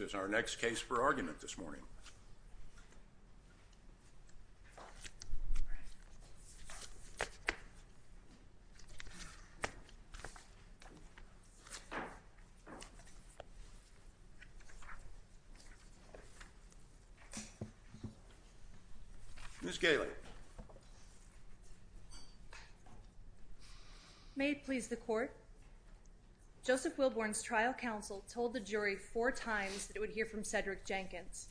is our next case for argument this morning. Ms. Gailey. Joseph Wilborn's trial counsel told the jury four times that it would hear from Cedric Jenkins.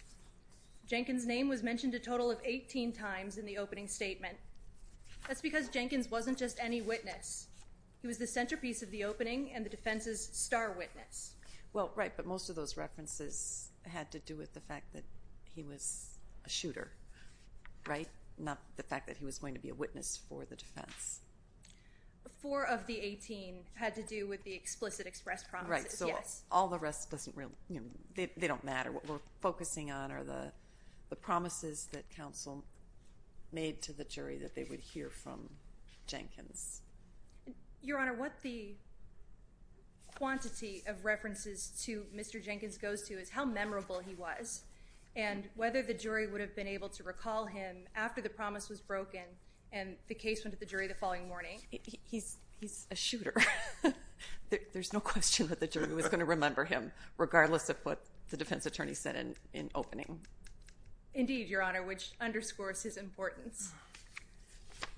Jenkins' name was mentioned a total of 18 times in the opening statement. That's because Jenkins wasn't just any witness. He was the centerpiece of the opening and the defense's star witness. Well, right, but most of those references had to do with the fact that he was a shooter, right? Not the fact that he was going to be a witness for the defense. Four of the 18 had to do with the explicit expressed promises, yes. Right, so all the rest doesn't really – they don't matter. What we're focusing on are the promises that counsel made to the jury that they would hear from Jenkins. Your Honor, what the quantity of references to Mr. Jenkins goes to is how memorable he was and whether the jury would have been able to recall him after the promise was broken and the case went to the jury the following morning. He's a shooter. There's no question that the jury was going to remember him, regardless of what the defense attorney said in opening. Indeed, Your Honor, which underscores his importance.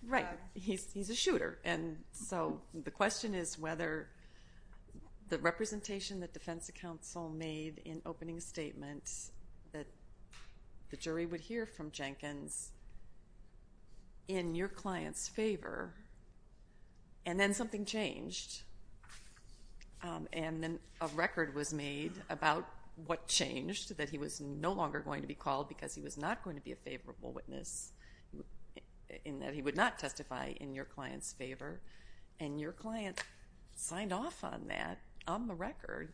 Right, he's a shooter. And so the question is whether the representation that defense counsel made in opening statements that the jury would hear from Jenkins in your client's favor. And then something changed, and then a record was made about what changed, that he was no longer going to be called because he was not going to be a favorable witness, in that he would not testify in your client's favor. And your client signed off on that on the record.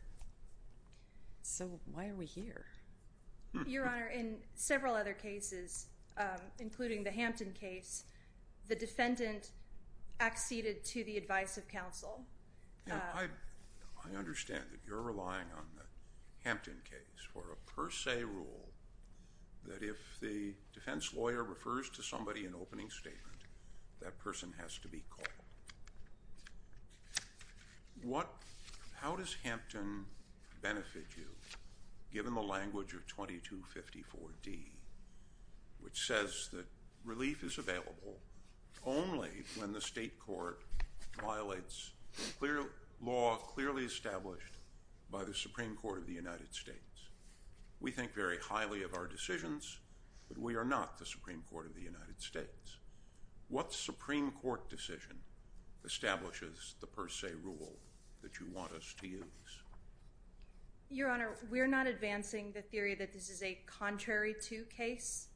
So why are we here? Your Honor, in several other cases, including the Hampton case, the defendant acceded to the advice of counsel. I understand that you're relying on the Hampton case for a per se rule that if the defense lawyer refers to somebody in opening statement, that person has to be called. How does Hampton benefit you, given the language of 2254D, which says that relief is available only when the state court violates law clearly established by the Supreme Court of the United States? We think very highly of our decisions, but we are not the Supreme Court of the United States. What Supreme Court decision establishes the per se rule that you want us to use? Your Honor, we're not advancing the theory that this is a contrary to case,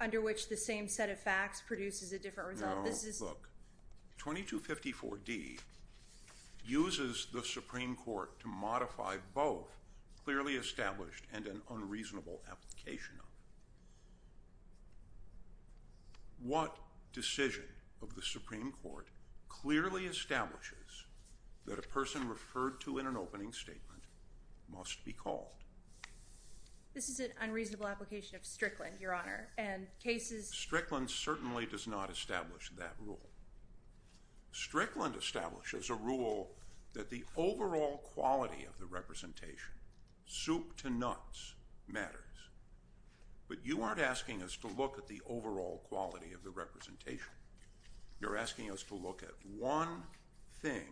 under which the same set of facts produces a different result. No, look. 2254D uses the Supreme Court to modify both clearly established and an unreasonable application. What decision of the Supreme Court clearly establishes that a person referred to in an opening statement must be called? This is an unreasonable application of Strickland, Your Honor. Strickland certainly does not establish that rule. Strickland establishes a rule that the overall quality of the representation, soup to nuts, matters. But you aren't asking us to look at the overall quality of the representation. You're asking us to look at one thing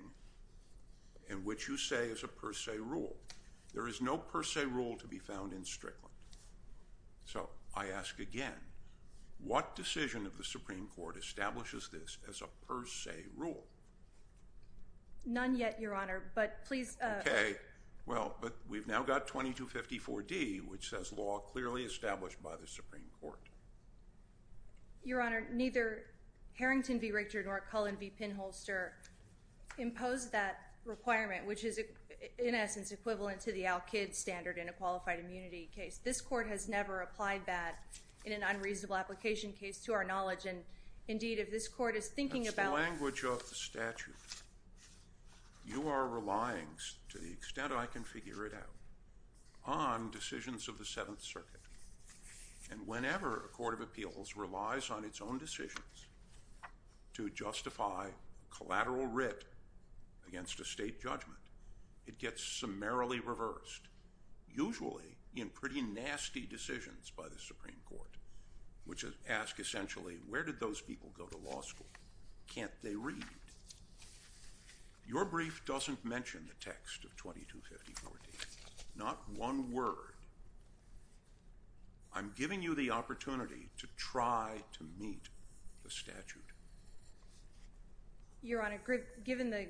in which you say is a per se rule. There is no per se rule to be found in Strickland. So I ask again, what decision of the Supreme Court establishes this as a per se rule? None yet, Your Honor, but please. Okay. Well, but we've now got 2254D, which says law clearly established by the Supreme Court. Your Honor, neither Harrington v. Richard nor Cullen v. Pinholster impose that requirement, which is in essence equivalent to the Al-Kid standard in a qualified immunity case. This court has never applied that in an unreasonable application case to our knowledge. And, indeed, if this court is thinking about— That's the language of the statute. You are relying, to the extent I can figure it out, on decisions of the Seventh Circuit. And whenever a court of appeals relies on its own decisions to justify collateral writ against a state judgment, it gets summarily reversed, usually in pretty nasty decisions by the Supreme Court, which ask, essentially, where did those people go to law school? Can't they read? Your brief doesn't mention the text of 2254D, not one word. I'm giving you the opportunity to try to meet the statute. Your Honor, given the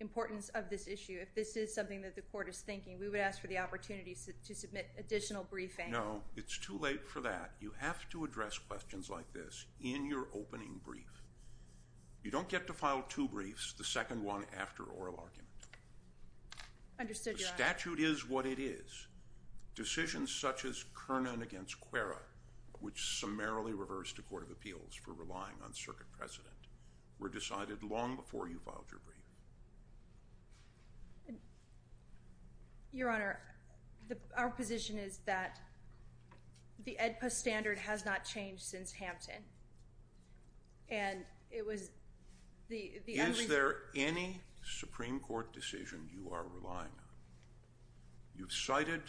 importance of this issue, if this is something that the court is thinking, we would ask for the opportunity to submit additional briefing. No, it's too late for that. You have to address questions like this in your opening brief. You don't get to file two briefs, the second one after oral argument. Understood, Your Honor. The statute is what it is. Decisions such as Kernan v. Cuerra, which summarily reversed a court of appeals for relying on circuit precedent, were decided long before you filed your brief. Your Honor, our position is that the AEDPA standard has not changed since Hampton. Is there any Supreme Court decision you are relying on? You've cited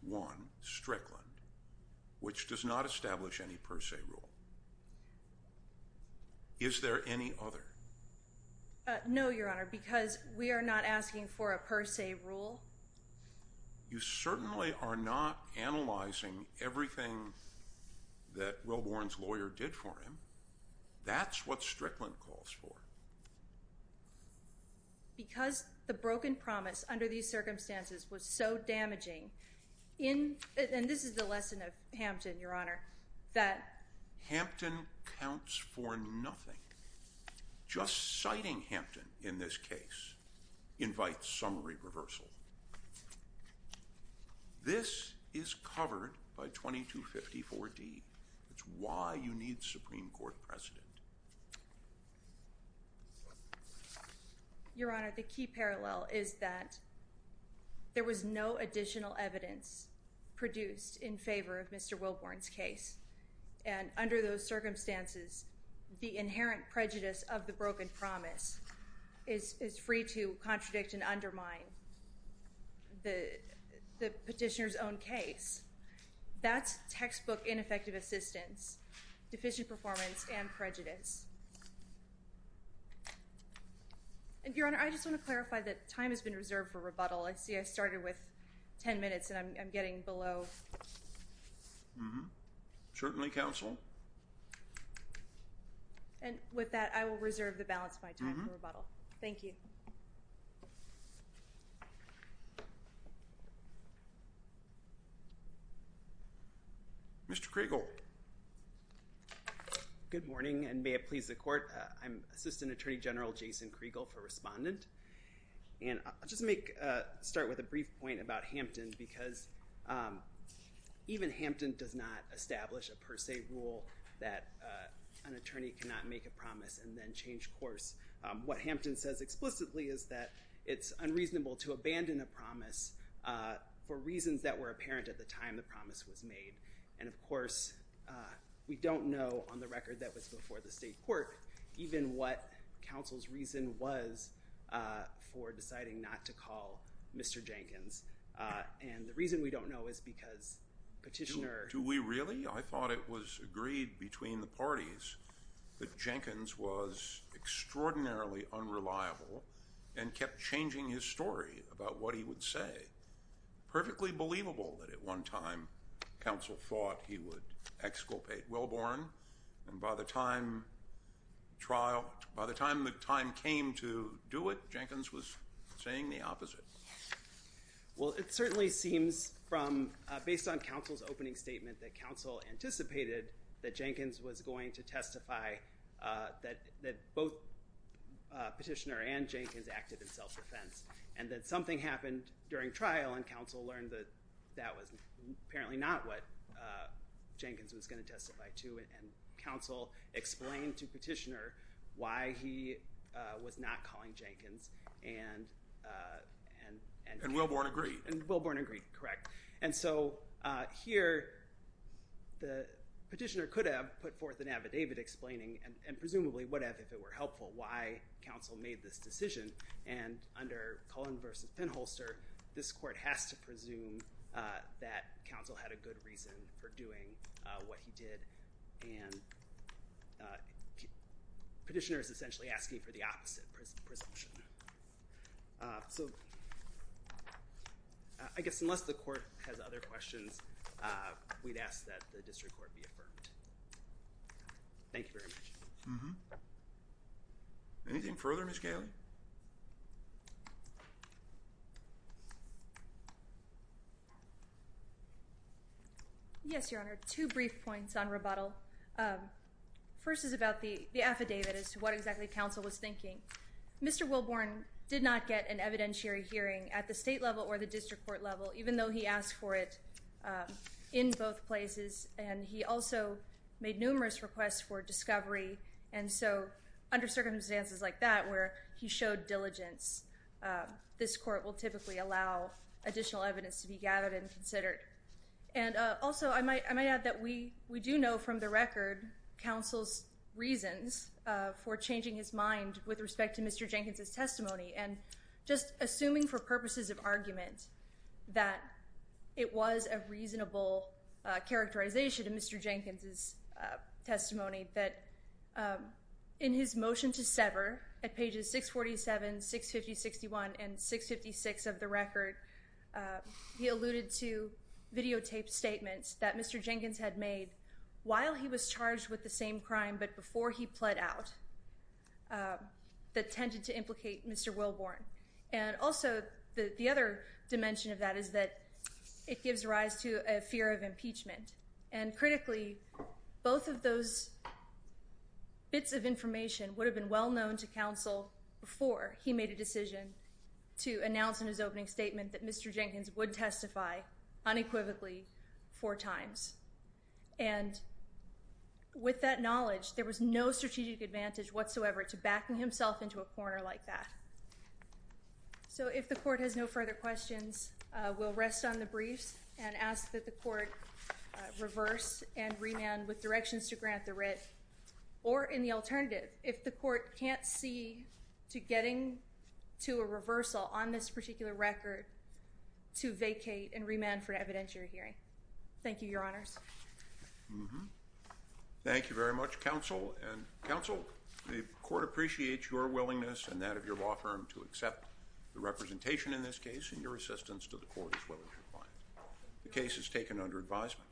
one, Strickland, which does not establish any per se rule. Is there any other? No, Your Honor, because we are not asking for a per se rule. You certainly are not analyzing everything that Wilbourn's lawyer did for him. That's what Strickland calls for. Because the broken promise under these circumstances was so damaging in— and this is the lesson of Hampton, Your Honor, that— Hampton counts for nothing. Just citing Hampton in this case invites summary reversal. This is covered by 2254D. That's why you need the Supreme Court precedent. Your Honor, the key parallel is that there was no additional evidence produced in favor of Mr. Wilbourn's case. And under those circumstances, the inherent prejudice of the broken promise is free to contradict and undermine the petitioner's own case. That's textbook ineffective assistance, deficient performance, and prejudice. Your Honor, I just want to clarify that time has been reserved for rebuttal. I see I started with 10 minutes, and I'm getting below— Certainly, counsel. And with that, I will reserve the balance of my time for rebuttal. Thank you. Mr. Kriegel. Good morning, and may it please the Court. I'm Assistant Attorney General Jason Kriegel for Respondent. And I'll just start with a brief point about Hampton because even Hampton does not establish a per se rule that an attorney cannot make a promise and then change course. What Hampton says explicitly is that it's unreasonable to abandon a promise for reasons that were apparent at the time the promise was made. And, of course, we don't know on the record that was before the state court even what counsel's reason was for deciding not to call Mr. Jenkins. And the reason we don't know is because petitioner— Do we really? I thought it was agreed between the parties that Jenkins was extraordinarily unreliable and kept changing his story about what he would say. Perfectly believable that at one time counsel thought he would exculpate Wellborn. And by the time the time came to do it, Jenkins was saying the opposite. Well, it certainly seems from—based on counsel's opening statement that counsel anticipated that Jenkins was going to testify that both petitioner and Jenkins acted in self-defense and that something happened during trial and counsel learned that that was apparently not what Jenkins was going to testify to. And counsel explained to petitioner why he was not calling Jenkins and— And Wellborn agreed. And Wellborn agreed, correct. And so here the petitioner could have put forth an affidavit explaining, and presumably would have if it were helpful, why counsel made this decision. And under Cullen v. Finholster, this court has to presume that counsel had a good reason for doing what he did. And petitioner is essentially asking for the opposite presumption. So I guess unless the court has other questions, we'd ask that the district court be affirmed. Thank you very much. Anything further, Ms. Galey? Yes, Your Honor. Two brief points on rebuttal. First is about the affidavit as to what exactly counsel was thinking. Mr. Wellborn did not get an evidentiary hearing at the state level or the district court level, even though he asked for it in both places. And he also made numerous requests for discovery. And so under circumstances like that where he showed diligence, this court will typically allow additional evidence to be gathered and considered. And also I might add that we do know from the record counsel's reasons for changing his mind with respect to Mr. Jenkins' testimony. And just assuming for purposes of argument that it was a reasonable characterization in Mr. Jenkins' testimony, that in his motion to sever at pages 647, 650, 61, and 656 of the record, he alluded to videotaped statements that Mr. Jenkins had made while he was charged with the same crime, but before he pled out, that tended to implicate Mr. Wellborn. And also the other dimension of that is that it gives rise to a fear of impeachment. And critically, both of those bits of information would have been well known to counsel before he made a decision to announce in his opening statement that Mr. Jenkins would testify unequivocally four times. And with that knowledge, there was no strategic advantage whatsoever to backing himself into a corner like that. So if the court has no further questions, we'll rest on the briefs and ask that the court reverse and remand with directions to grant the writ. Or in the alternative, if the court can't see to getting to a reversal on this particular record, to vacate and remand for an evidentiary hearing. Thank you, Your Honors. Thank you very much, counsel. And counsel, the court appreciates your willingness and that of your law firm to accept the representation in this case and your assistance to the court as well as your client. The case is taken under advisement.